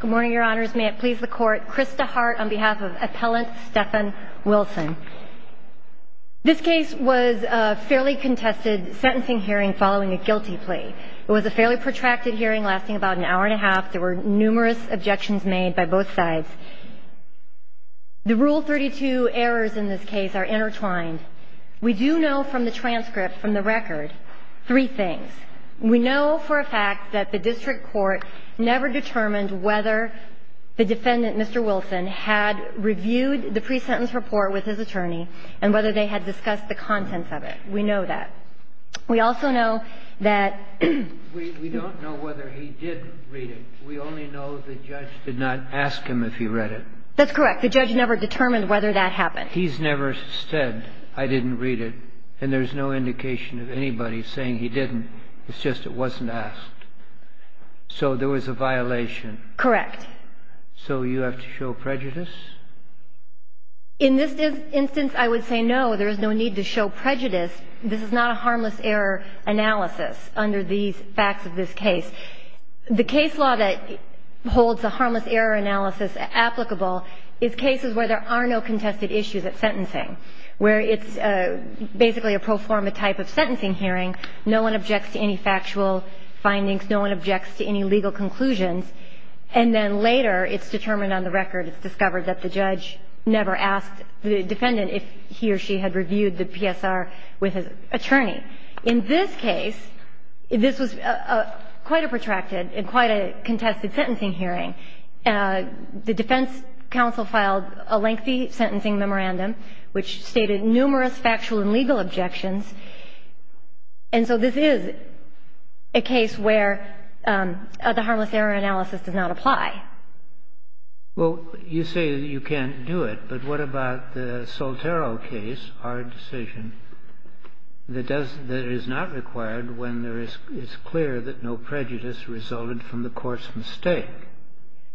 Good morning, your honors. May it please the court. Krista Hart on behalf of appellant Stefan Wilson. This case was a fairly contested sentencing hearing following a guilty plea. It was a fairly protracted hearing lasting about an hour and a half. There were numerous objections made by both sides. The rule 32 errors in this case are intertwined. We do know from the transcript, from the record, three things. We know for a fact that the district court never determined whether the defendant, Mr. Wilson, had reviewed the pre-sentence report with his attorney and whether they had discussed the contents of it. We know that. We also know that We don't know whether he did read it. We only know the judge did not ask him if he read it. That's correct. The judge never determined whether that happened. He's never said, I didn't read it. And there's no indication of anybody saying he didn't. It's just it wasn't asked. So there was a violation. Correct. So you have to show prejudice? In this instance, I would say, no, there is no need to show prejudice. This is not a harmless error analysis under these facts of this case. The case law that holds a harmless error analysis applicable is cases where there are no contested sentencing hearing, no one objects to any factual findings, no one objects to any legal conclusions, and then later it's determined on the record, it's discovered that the judge never asked the defendant if he or she had reviewed the PSR with his attorney. In this case, this was quite a protracted and quite a contested sentencing hearing. The defense counsel filed a lengthy sentencing memorandum which stated numerous factual and legal objections. And so this is a case where the harmless error analysis does not apply. Well, you say you can't do it, but what about the Soltero case, our decision, that does — that is not required when there is — it's clear that no prejudice resulted from the court's mistake?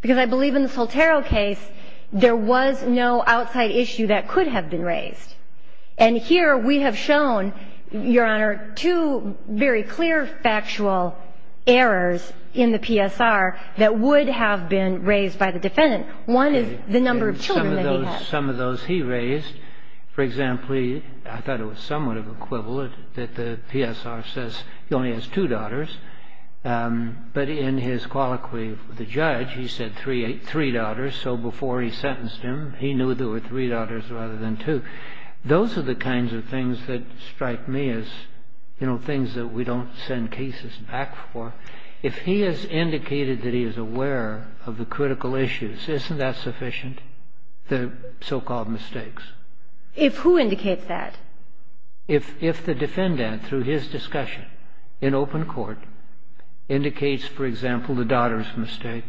Because I believe in the Soltero case, there was no outside issue that could have been raised. And here we have shown, Your Honor, two very clear factual errors in the PSR that would have been raised by the defendant. One is the number of children that he had. Some of those — some of those he raised. For example, I thought it was somewhat of an equivalent that the PSR says he only has two daughters, but in his colloquy with the judge, he said three daughters. So before he sentenced him, he knew there were three daughters rather than two. Those are the kinds of things that strike me as, you know, things that we don't send cases back for. If he has indicated that he is aware of the critical issues, isn't that sufficient, the so-called mistakes? If who indicates that? If the defendant, through his discussion in open court, indicates, for example, the daughter's mistake,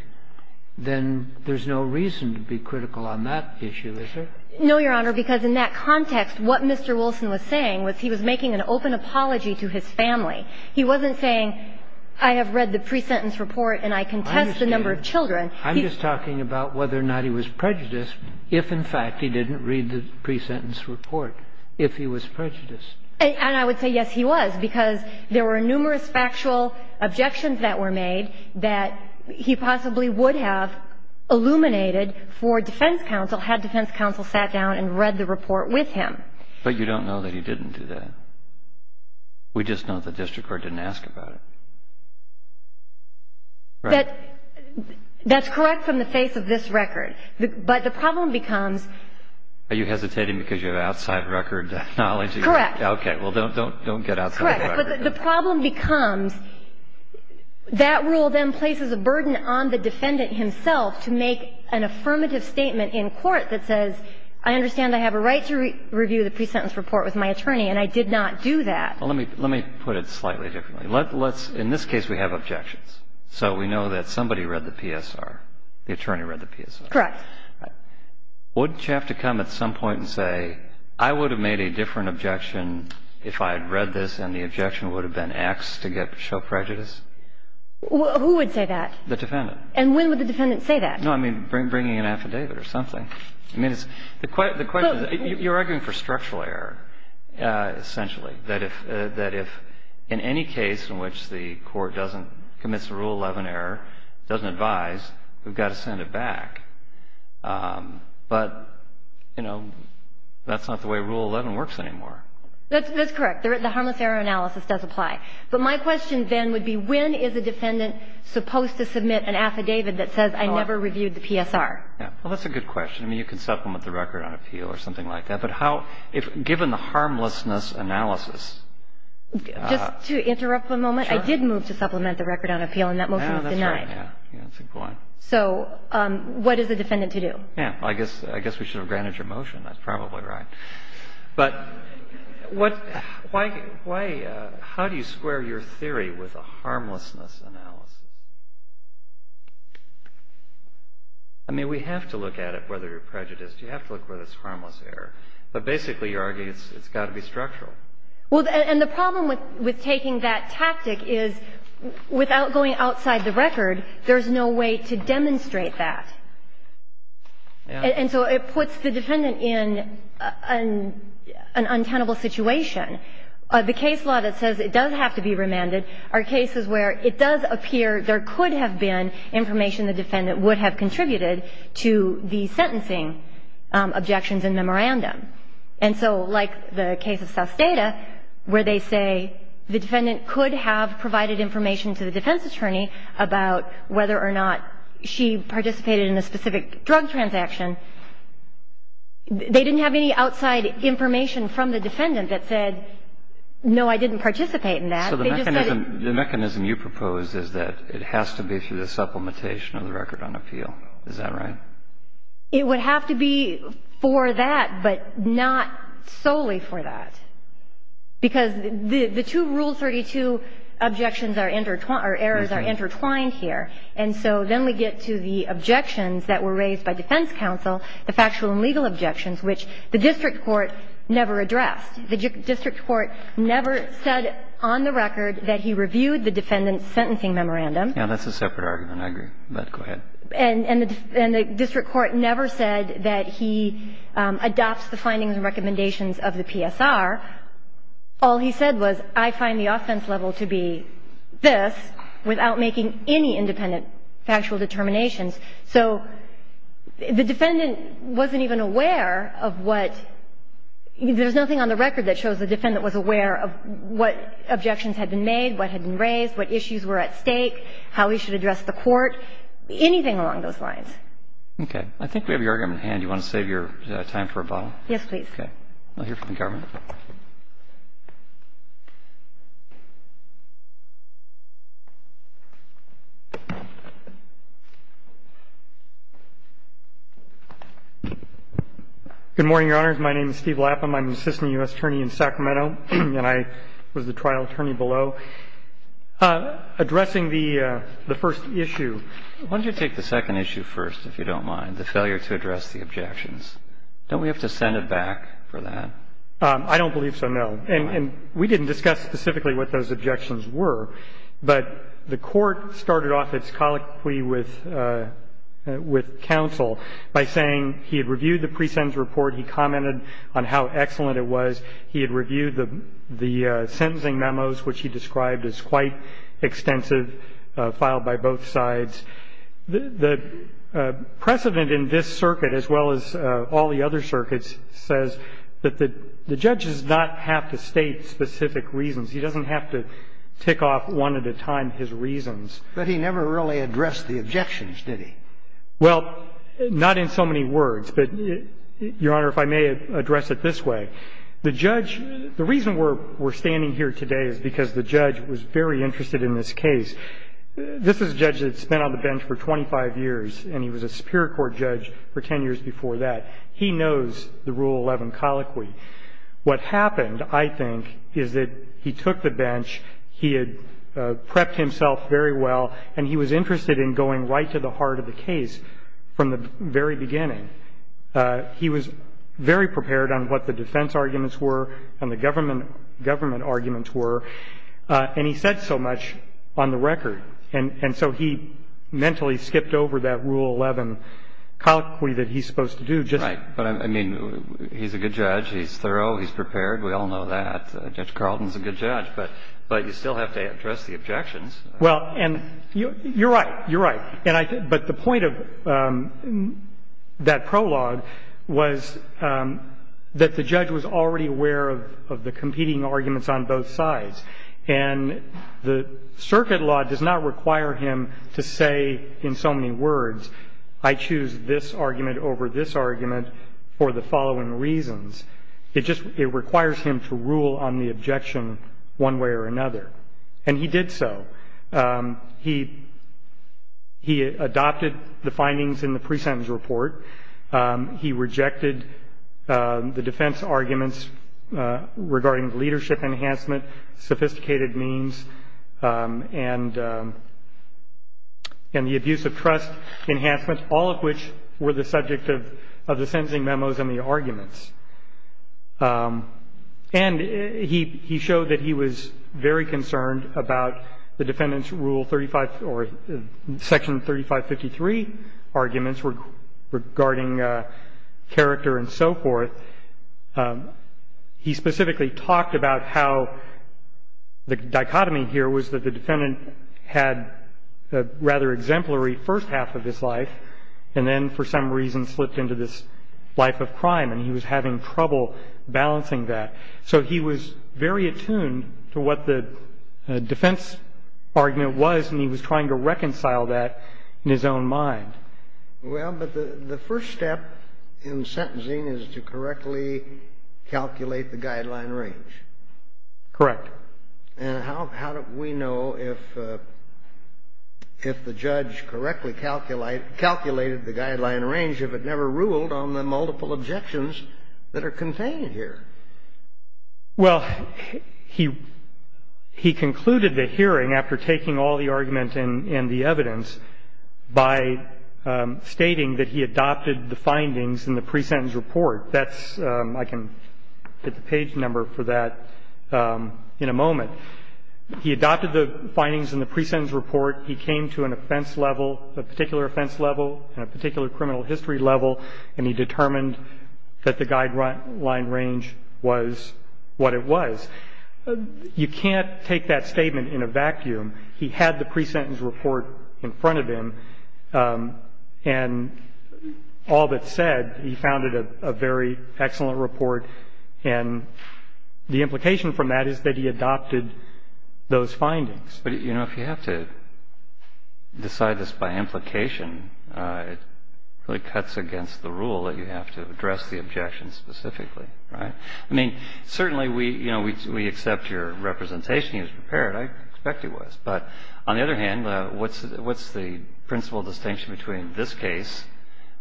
then there's no reason to be critical on that issue, is there? No, Your Honor, because in that context, what Mr. Wilson was saying was he was making an open apology to his family. He wasn't saying, I have read the pre-sentence report and I contest the number of children. I'm just talking about whether or not he was prejudiced if, in fact, he didn't read the pre-sentence report, if he was prejudiced. And I would say, yes, he was, because there were numerous factual objections that were made that he possibly would have illuminated for defense counsel, had defense counsel sat down and read the report with him. But you don't know that he didn't do that. We just know the district court didn't ask about it. But that's correct from the face of this record. But the problem becomes — Are you hesitating because you have outside record knowledge? Correct. Okay. Well, don't get outside the record. But the problem becomes that rule then places a burden on the defendant himself to make an affirmative statement in court that says, I understand I have a right to review the pre-sentence report with my attorney, and I did not do that. Well, let me put it slightly differently. Let's — in this case, we have objections. So we know that somebody read the PSR. The attorney read the PSR. Correct. Wouldn't you have to come at some point and say, I would have made a different objection if I had read this, and the objection would have been X to show prejudice? Who would say that? The defendant. And when would the defendant say that? No, I mean, bringing an affidavit or something. I mean, it's — the question is — You're arguing for structural error, essentially, that if — that if in any case in which the court doesn't — commits a Rule 11 error, doesn't advise, we've got to send it back. But, you know, that's not the way Rule 11 works anymore. That's correct. The harmless error analysis does apply. But my question then would be, when is a defendant supposed to submit an affidavit that says, I never reviewed the PSR? Well, that's a good question. I mean, you can supplement the record on appeal or something like that. But how — if — given the harmlessness analysis — Just to interrupt for a moment, I did move to supplement the record on appeal, and that motion was denied. Yeah, that's right. Yeah, that's a good point. So what is the defendant to do? Yeah. I guess — I guess we should have granted your motion. That's probably right. But what — why — how do you square your theory with a harmlessness analysis? I mean, we have to look at it, whether you're prejudiced. You have to look whether it's harmless error. But basically, you're arguing it's got to be structural. Well, and the problem with taking that tactic is, without going outside the record, there's no way to demonstrate that. And so it puts the defendant in an untenable situation. The case law that says it does have to be remanded are cases where it does appear there could have been information the defendant would have contributed to the sentencing objections in memorandum. And so, like the case of Suss Data, where they say the defendant could have provided information to the defense attorney about whether or not she participated in a specific drug transaction. They didn't have any outside information from the defendant that said, no, I didn't participate in that. They just said — So the mechanism you propose is that it has to be through the supplementation of the record on appeal. Is that right? It would have to be for that, but not solely for that. Because the two Rule 32 objections are intertwined — or errors are intertwined here. And so then we get to the objections that were raised by defense counsel, the factual and legal objections, which the district court never addressed. The district court never said on the record that he reviewed the defendant's sentencing memorandum. Yeah, that's a separate argument. I agree. But go ahead. And the district court never said that he adopts the findings and recommendations of the PSR. All he said was, I find the offense level to be this, without making any independent factual determinations. So the defendant wasn't even aware of what — there's nothing on the record that shows the defendant was aware of what objections had been made, what had been raised, what issues were at stake, how he should address the court. Anything along those lines. Okay. I think we have your argument at hand. Do you want to save your time for a bottle? Yes, please. Okay. I'll hear from the government. Good morning, Your Honors. My name is Steve Lapham. I'm an assistant U.S. attorney in Sacramento, and I was the trial attorney below. And I'm here today to talk to you about the pre-sentence report, which is the pre-sentence report that we're going to look at in a moment. So addressing the first issue, why don't you take the second issue first, if you don't mind, the failure to address the objections. Don't we have to send it back for that? I don't believe so, no. And we didn't discuss specifically what those objections were, but the Court started off its colloquy with counsel by saying he had reviewed the pre-sentence report, he commented on how excellent it was, he had reviewed the sentencing memos, which he described as quite extensive, filed by both sides. The precedent in this circuit, as well as all the other circuits, says that the judge does not have to state specific reasons. He doesn't have to tick off one at a time his reasons. But he never really addressed the objections, did he? Well, not in so many words, but, Your Honor, if I may address it this way. The judge – the reason we're standing here today is because the judge was very interested in this case. This is a judge that spent on the bench for 25 years, and he was a superior court judge for 10 years before that. He knows the Rule 11 colloquy. What happened, I think, is that he took the bench, he had prepped himself very well, and he was interested in going right to the heart of the case from the very beginning. He was very prepared on what the defense arguments were and the government arguments were. And he said so much on the record. And so he mentally skipped over that Rule 11 colloquy that he's supposed to do. Right. But, I mean, he's a good judge. He's thorough. He's prepared. We all know that. Judge Carlton's a good judge. But you still have to address the objections. Well, and you're right. You're right. And I – but the point of that prologue was that the judge was already aware of the competing arguments on both sides. And the circuit law does not require him to say in so many words, I choose this argument over this argument for the following reasons. It just – it requires him to rule on the objection one way or another. And he did so. He adopted the findings in the pre-sentence report. He rejected the defense arguments regarding leadership enhancement, sophisticated means, and the abuse of trust enhancements, all of which were the subject of the sentencing memos and the arguments. And he showed that he was very concerned about the defendant's Rule 35 – or Section 3553 arguments regarding character and so forth. He specifically talked about how the dichotomy here was that the defendant had a rather exemplary first half of his life, and then for some reason slipped into this life of crime. And he was having trouble balancing that. So he was very attuned to what the defense argument was, and he was trying to reconcile that in his own mind. Well, but the first step in sentencing is to correctly calculate the guideline range. Correct. And how do we know if the judge correctly calculated the guideline range if it never ruled on the multiple objections that are contained here? Well, he concluded the hearing after taking all the argument and the evidence by stating that he adopted the findings in the pre-sentence report. That's – I can get the page number for that in a moment. He adopted the findings in the pre-sentence report. He came to an offense level, a particular offense level, and a particular criminal history level, and he determined that the guideline range was what it was. And he concluded that he adopted the findings in the pre-sentence report. He had the pre-sentence report in front of him, and all that's said, he found it a very excellent report. And the implication from that is that he adopted those findings. But, you know, if you have to decide this by implication, it really cuts against the rule that you have to address the objection specifically, right? I mean, certainly we, you know, we accept your representation. You was prepared. I expect you was. But on the other hand, what's the principal distinction between this case,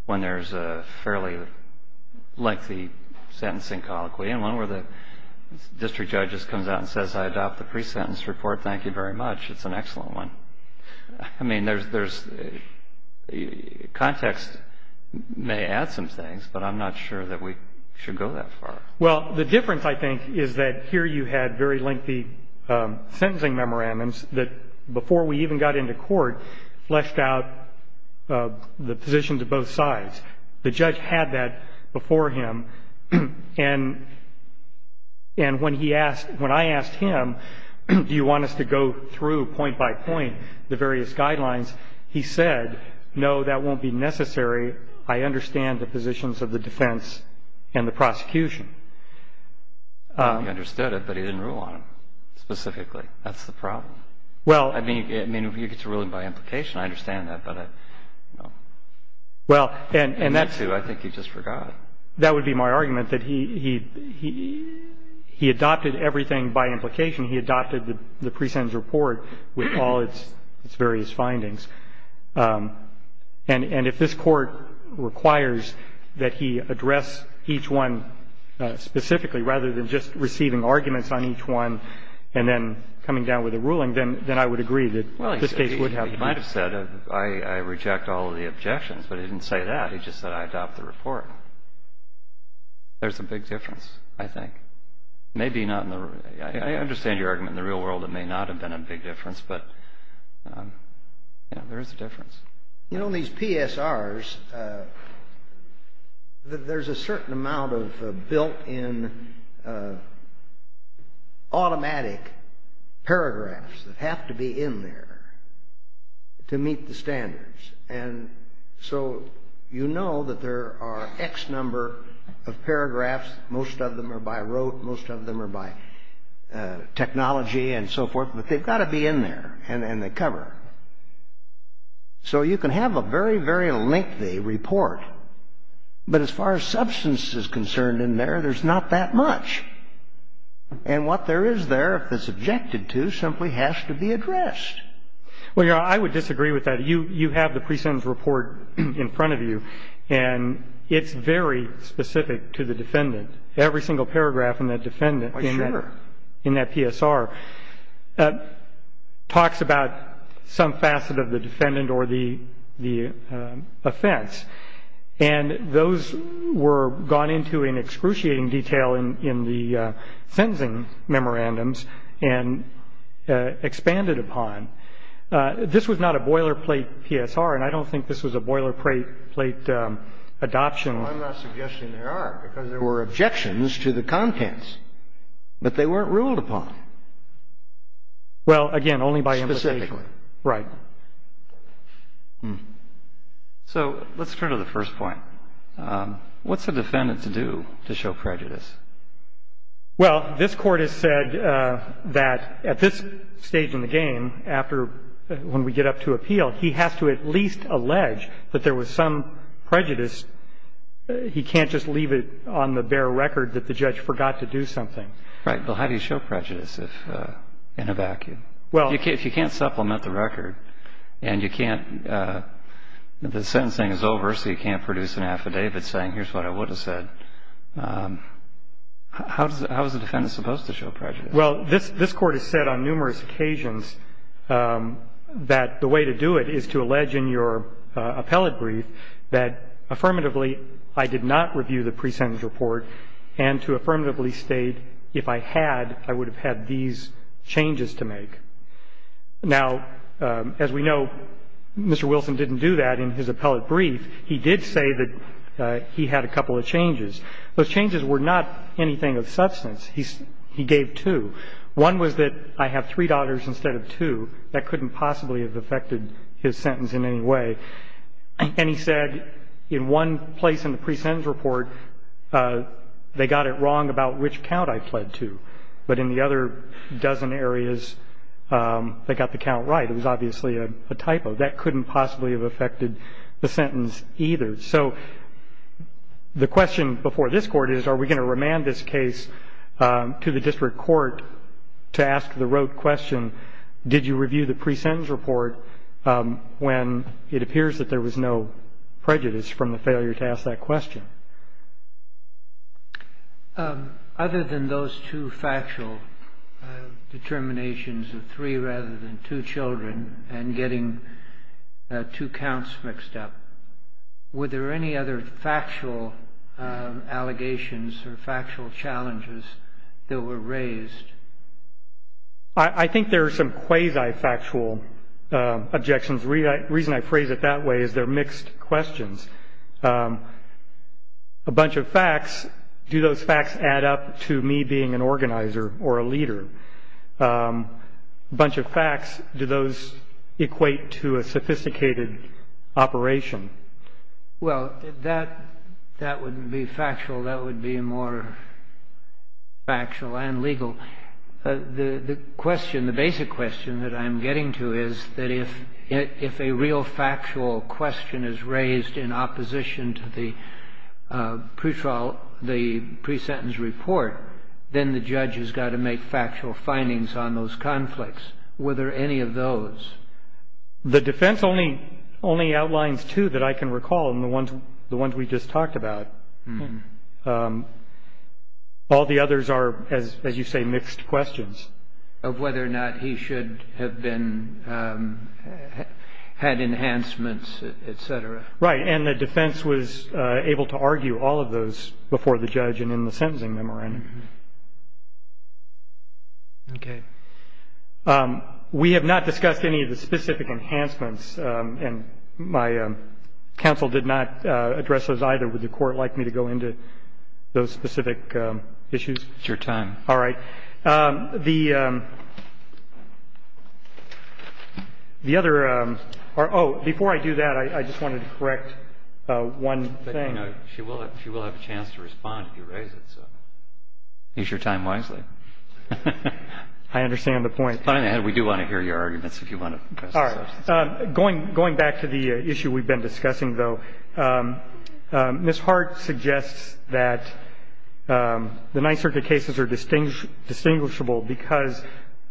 when there's a fairly lengthy sentencing colloquy, and one where the district judge just comes out and says, I adopt the pre-sentence report. Thank you very much. It's an excellent one. I mean, there's – context may add some things, but I'm not sure that we should go that far. Well, the difference, I think, is that here you had very lengthy sentencing memorandums that, before we even got into court, fleshed out the position to both sides. The judge had that before him. And when he asked – when I asked him, do you want us to go through point by point the various guidelines, he said, no, that won't be necessary. I understand the positions of the defense and the prosecution. I thought he understood it, but he didn't rule on them specifically. That's the problem. Well – I mean, you get to rule them by implication. I understand that, but, you know – Well, and that's – I think he just forgot. That would be my argument, that he adopted everything by implication. He adopted the pre-sentence report with all its various findings. And if this Court requires that he address each one specifically, rather than just receiving arguments on each one and then coming down with a ruling, then I would agree that this case would have – Well, he might have said, I reject all of the objections, but he didn't say that. He just said, I adopt the report. There's a big difference, I think. Maybe not in the – I understand your argument. In the real world, it may not have been a big difference. But, yeah, there is a difference. You know, these PSRs, there's a certain amount of built-in automatic paragraphs that have to be in there to meet the standards. And so you know that there are X number of paragraphs. Most of them are by rote. Most of them are by technology and so forth. But they've got to be in there and they cover. So you can have a very, very lengthy report. But as far as substance is concerned in there, there's not that much. And what there is there, if it's objected to, simply has to be addressed. Well, Your Honor, I would disagree with that. You have the pre-sentence report in front of you. And it's very specific to the defendant. Every single paragraph in that defendant in that PSR. Talks about some facet of the defendant or the offense. And those were gone into in excruciating detail in the sentencing memorandums and expanded upon. This was not a boilerplate PSR. And I don't think this was a boilerplate adoption. Well, I'm not suggesting there are, because there were objections to the contents. But they weren't ruled upon. Well, again, only by implication. Right. So let's turn to the first point. What's a defendant to do to show prejudice? Well, this Court has said that at this stage in the game, after when we get up to appeal, he has to at least allege that there was some prejudice. He can't just leave it on the bare record that the judge forgot to do something. Right. Well, how do you show prejudice in a vacuum? Well, if you can't supplement the record and you can't – the sentencing is over, so you can't produce an affidavit saying, here's what I would have said, how is the defendant supposed to show prejudice? Well, this Court has said on numerous occasions that the way to do it is to allege in your appellate brief that, affirmatively, I did not review the pre-sentence report and to affirmatively state, if I had, I would have had these changes to make. Now, as we know, Mr. Wilson didn't do that in his appellate brief. He did say that he had a couple of changes. Those changes were not anything of substance. He gave two. One was that I have three daughters instead of two. That couldn't possibly have affected his sentence in any way. And he said, in one place in the pre-sentence report, they got it wrong about which count I fled to. But in the other dozen areas, they got the count right. It was obviously a typo. That couldn't possibly have affected the sentence either. So the question before this Court is, are we going to remand this case to the district court to ask the rote question, did you review the pre-sentence report when it appears that there was no prejudice from the failure to ask that question? Other than those two factual determinations of three rather than two children and getting two counts mixed up, were there any other factual allegations or factual challenges that were raised? I think there are some quasi-factual objections. The reason I phrase it that way is they're mixed questions. A bunch of facts, do those facts add up to me being an organizer or a leader? A bunch of facts, do those equate to a sophisticated operation? Well, that wouldn't be factual. That would be more factual and legal. The question, the basic question that I'm getting to is that if a real factual question is raised in opposition to the pre-sentence report, then the judge has got to make factual findings on those conflicts. Were there any of those? The defense only outlines two that I can recall and the ones we just talked about. All the others are, as you say, mixed questions. Of whether or not he should have had enhancements, et cetera. Right. And the defense was able to argue all of those before the judge and in the sentencing memorandum. Okay. We have not discussed any of the specific enhancements, and my counsel did not address those either. Would the Court like me to go into those specific issues? It's your time. All right. The other, oh, before I do that, I just wanted to correct one thing. You know, she will have a chance to respond if you raise it, so use your time wisely. I understand the point. It's funny that we do want to hear your arguments if you want to press the substance. Going back to the issue we've been discussing, though, Ms. Hart suggests that the Ninth Circuit cases are distinguishable because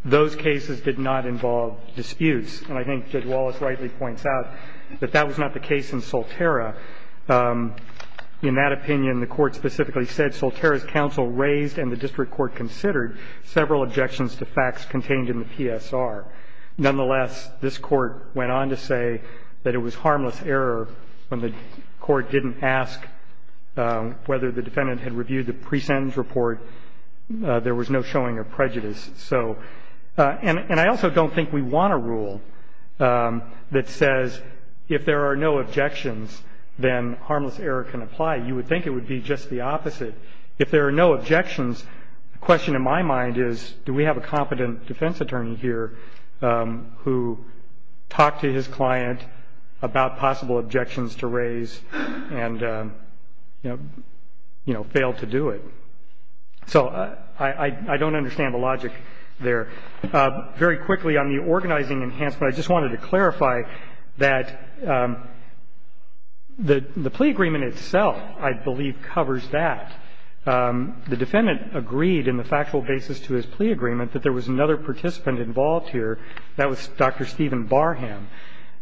those cases did not involve disputes. And I think Judge Wallace rightly points out that that was not the case in Solterra. In that opinion, the Court specifically said Solterra's counsel raised and the district court considered several objections to facts contained in the PSR. Nonetheless, this Court went on to say that it was harmless error when the Court didn't ask whether the defendant had reviewed the pre-sentence report. There was no showing of prejudice. So, and I also don't think we want a rule that says if there are no objections, then harmless error can apply. You would think it would be just the opposite. If there are no objections, the question in my mind is, do we have a competent defense attorney here who talked to his client about possible objections to raise and, you know, failed to do it? So I don't understand the logic there. Very quickly, on the organizing enhancement, I just wanted to clarify that the plea agreement itself, I believe, covers that. The defendant agreed in the factual basis to his plea agreement that there was another participant involved here. That was Dr. Stephen Barham.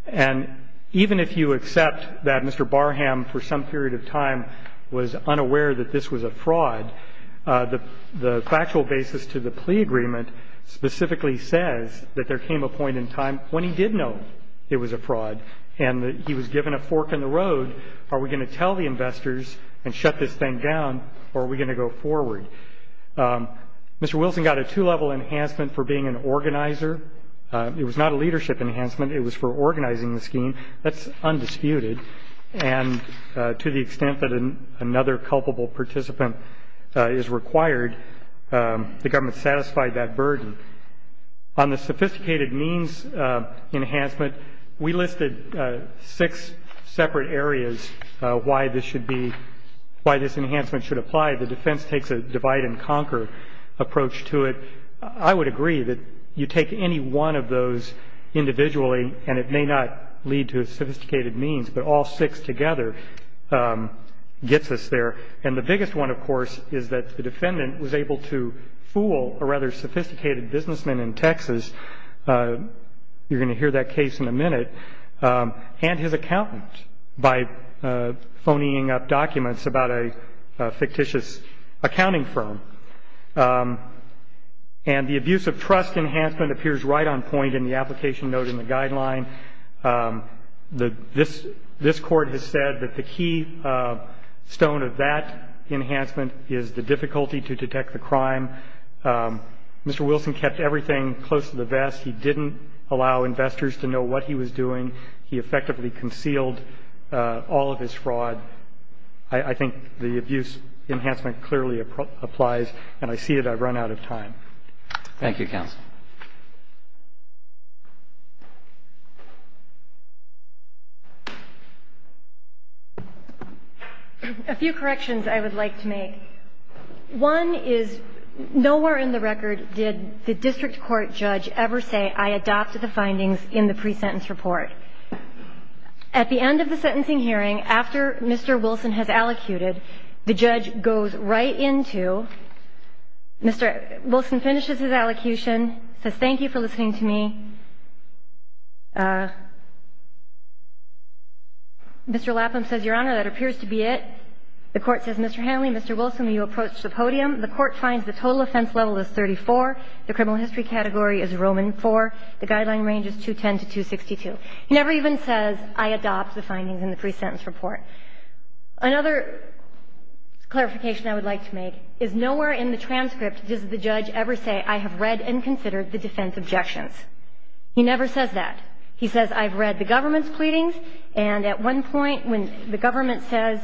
And even if you accept that Mr. Barham, for some period of time, was unaware that this was a fraud, the factual basis to the plea agreement specifically says that there came a point in time when he did know it was a fraud and that he was given a fork in the road. Are we going to tell the investors and shut this thing down, or are we going to go forward? Mr. Wilson got a two-level enhancement for being an organizer. It was not a leadership enhancement. It was for organizing the scheme. That's undisputed. And to the extent that another culpable participant is required, the government satisfied that burden. On the sophisticated means enhancement, we listed six separate areas why this should be, why this enhancement should apply. The defense takes a divide-and-conquer approach to it. I would agree that you take any one of those individually, and it may not lead to a sophisticated means, but all six together gets us there. And the biggest one, of course, is that the defendant was able to fool a rather sophisticated businessman in Texas, you're going to hear that case in a minute, and his accountant by phonying up documents about a fictitious accounting firm. And the abuse of trust enhancement appears right on point in the application note in the guideline. This Court has said that the key stone of that enhancement is the difficulty to detect the crime. Mr. Wilson kept everything close to the vest. He didn't allow investors to know what he was doing. He effectively concealed all of his fraud. I think the abuse enhancement clearly applies, and I see that I've run out of time. Thank you, counsel. A few corrections I would like to make. One is nowhere in the record did the district court judge ever say, I adopted the findings in the pre-sentence report. At the end of the sentencing hearing, after Mr. Wilson has allocuted, the judge goes right into Mr. Wilson finishes his allocution, says, thank you for listening to me. Mr. Lapham says, Your Honor, that appears to be it. The Court says, Mr. Hanley, Mr. Wilson, you approach the podium. The Court finds the total offense level is 34. The criminal history category is Roman IV. The guideline range is 210 to 262. He never even says, I adopt the findings in the pre-sentence report. Another clarification I would like to make is nowhere in the transcript does the judge ever say, I have read and considered the defense objections. He never says that. He says, I've read the government's pleadings. And at one point, when the government says,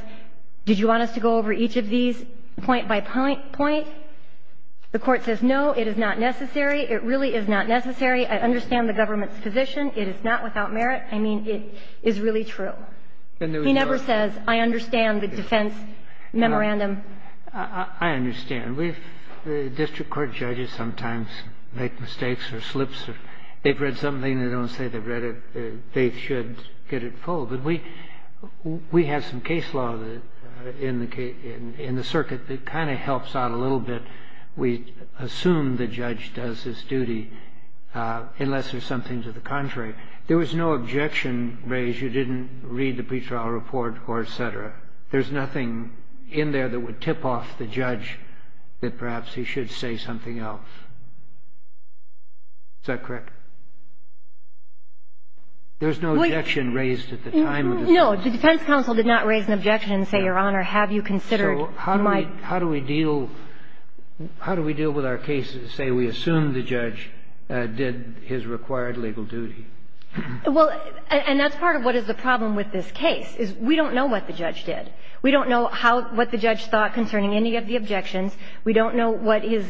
did you want us to go over each of these point by point, the Court says, no, it is not necessary. It really is not necessary. I understand the government's position. It is not without merit. I mean, it is really true. He never says, I understand the defense memorandum. I understand. We've the district court judges sometimes make mistakes or slips or they've read something, they don't say they've read it, they should get it full. But we have some case law in the circuit that kind of helps out a little bit. We assume the judge does his duty unless there's something to the contrary. There was no objection raised. You didn't read the pretrial report or et cetera. There's nothing in there that would tip off the judge that perhaps he should say something else. Is that correct? There's no objection raised at the time of the defense. No. The defense counsel did not raise an objection and say, Your Honor, have you considered my ---- So how do we deal with our cases, say we assume the judge did his required legal duty? Well, and that's part of what is the problem with this case, is we don't know what the judge did. We don't know what the judge thought concerning any of the objections. We don't know what his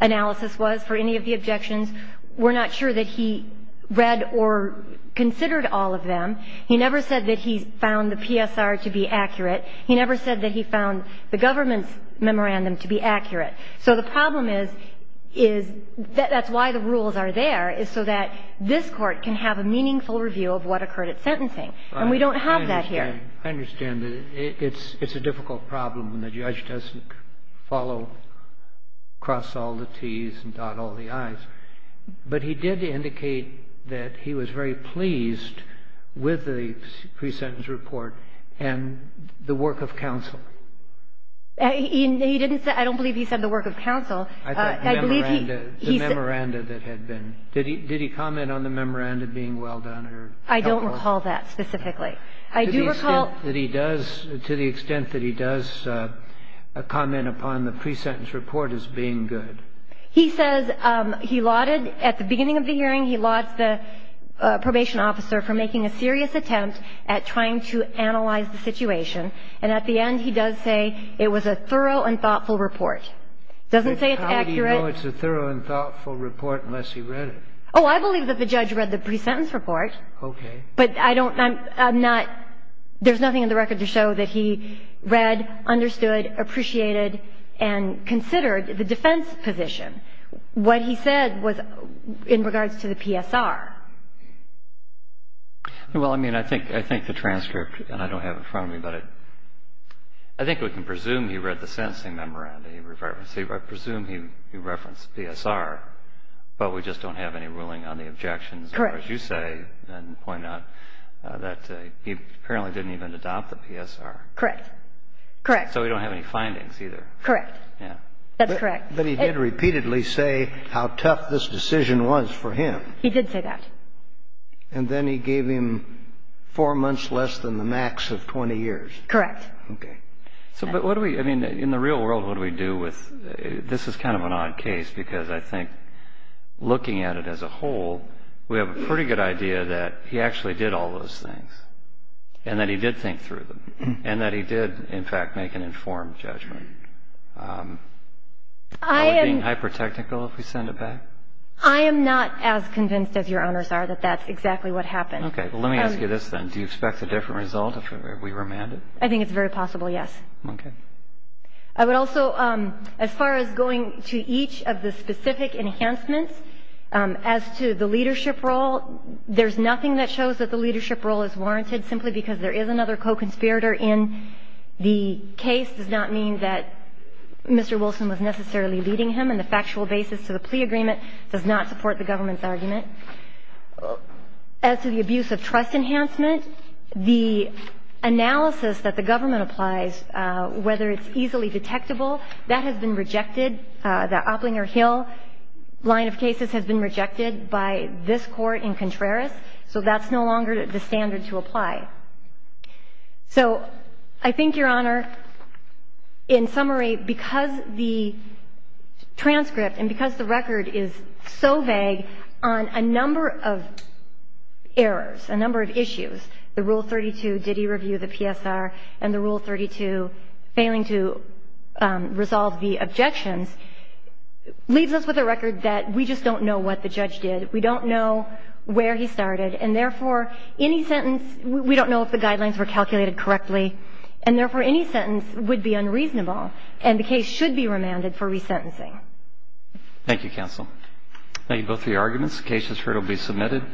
analysis was for any of the objections. We're not sure that he read or considered all of them. He never said that he found the PSR to be accurate. He never said that he found the government's memorandum to be accurate. So the problem is that's why the rules are there, is so that this Court can have a meaningful review of what occurred at sentencing. And we don't have that here. I understand that it's a difficult problem when the judge doesn't follow across all the T's and dot all the I's. But he did indicate that he was very pleased with the pre-sentence report and the work of counsel. He didn't say ---- I don't believe he said the work of counsel. I believe he ---- The memoranda that had been. Did he comment on the memoranda being well done or helpful? I don't recall that specifically. I do recall ---- To the extent that he does comment upon the pre-sentence report as being good. He says he lauded at the beginning of the hearing, he lauds the probation officer for making a serious attempt at trying to analyze the situation. And at the end, he does say it was a thorough and thoughtful report. It doesn't say it's accurate. But how did he know it's a thorough and thoughtful report unless he read it? Oh, I believe that the judge read the pre-sentence report. Okay. But I don't ---- I'm not ---- there's nothing in the record to show that he read, understood, appreciated, and considered the defense position. What he said was in regards to the PSR. Well, I mean, I think the transcript, and I don't have it in front of me, but I think we can presume he read the sentencing memoranda. He referenced ---- I presume he referenced PSR, but we just don't have any ruling on the objections. Correct. Or as you say and point out, that he apparently didn't even adopt the PSR. Correct. So we don't have any findings either. Correct. Yeah. That's correct. But he did repeatedly say how tough this decision was for him. He did say that. And then he gave him four months less than the max of 20 years. Correct. Okay. So but what do we ---- I mean, in the real world, what do we do with ---- this is kind of an odd case because I think looking at it as a whole, we have a pretty good idea that he actually did all those things and that he did think through them and that he did, in fact, make an informed judgment. I am ---- Are we being hyper-technical if we send it back? I am not as convinced as your owners are that that's exactly what happened. Okay. Well, let me ask you this then. Do you expect a different result if we remand it? I think it's very possible, yes. Okay. I would also, as far as going to each of the specific enhancements as to the leadership role, there's nothing that shows that the leadership role is warranted simply because there is another co-conspirator in the case. It does not mean that Mr. Wilson was necessarily leading him, and the factual basis to the plea agreement does not support the government's argument. As to the abuse of trust enhancement, the analysis that the government applies, whether it's easily detectable, that has been rejected. The Opplinger-Hill line of cases has been rejected by this Court in Contreras, so that's no longer the standard to apply. So I think, Your Honor, in summary, because the transcript and because the record is so vague on a number of errors, a number of issues, the Rule 32, did he review the PSR, and the Rule 32, failing to resolve the objections, leaves us with a record that we just don't know what the judge did. We don't know where he started. And therefore, any sentence, we don't know if the guidelines were calculated correctly, and therefore, any sentence would be unreasonable, and the case should be remanded for resentencing. Thank you, Counsel. Thank you both for your arguments. The case has heard will be submitted.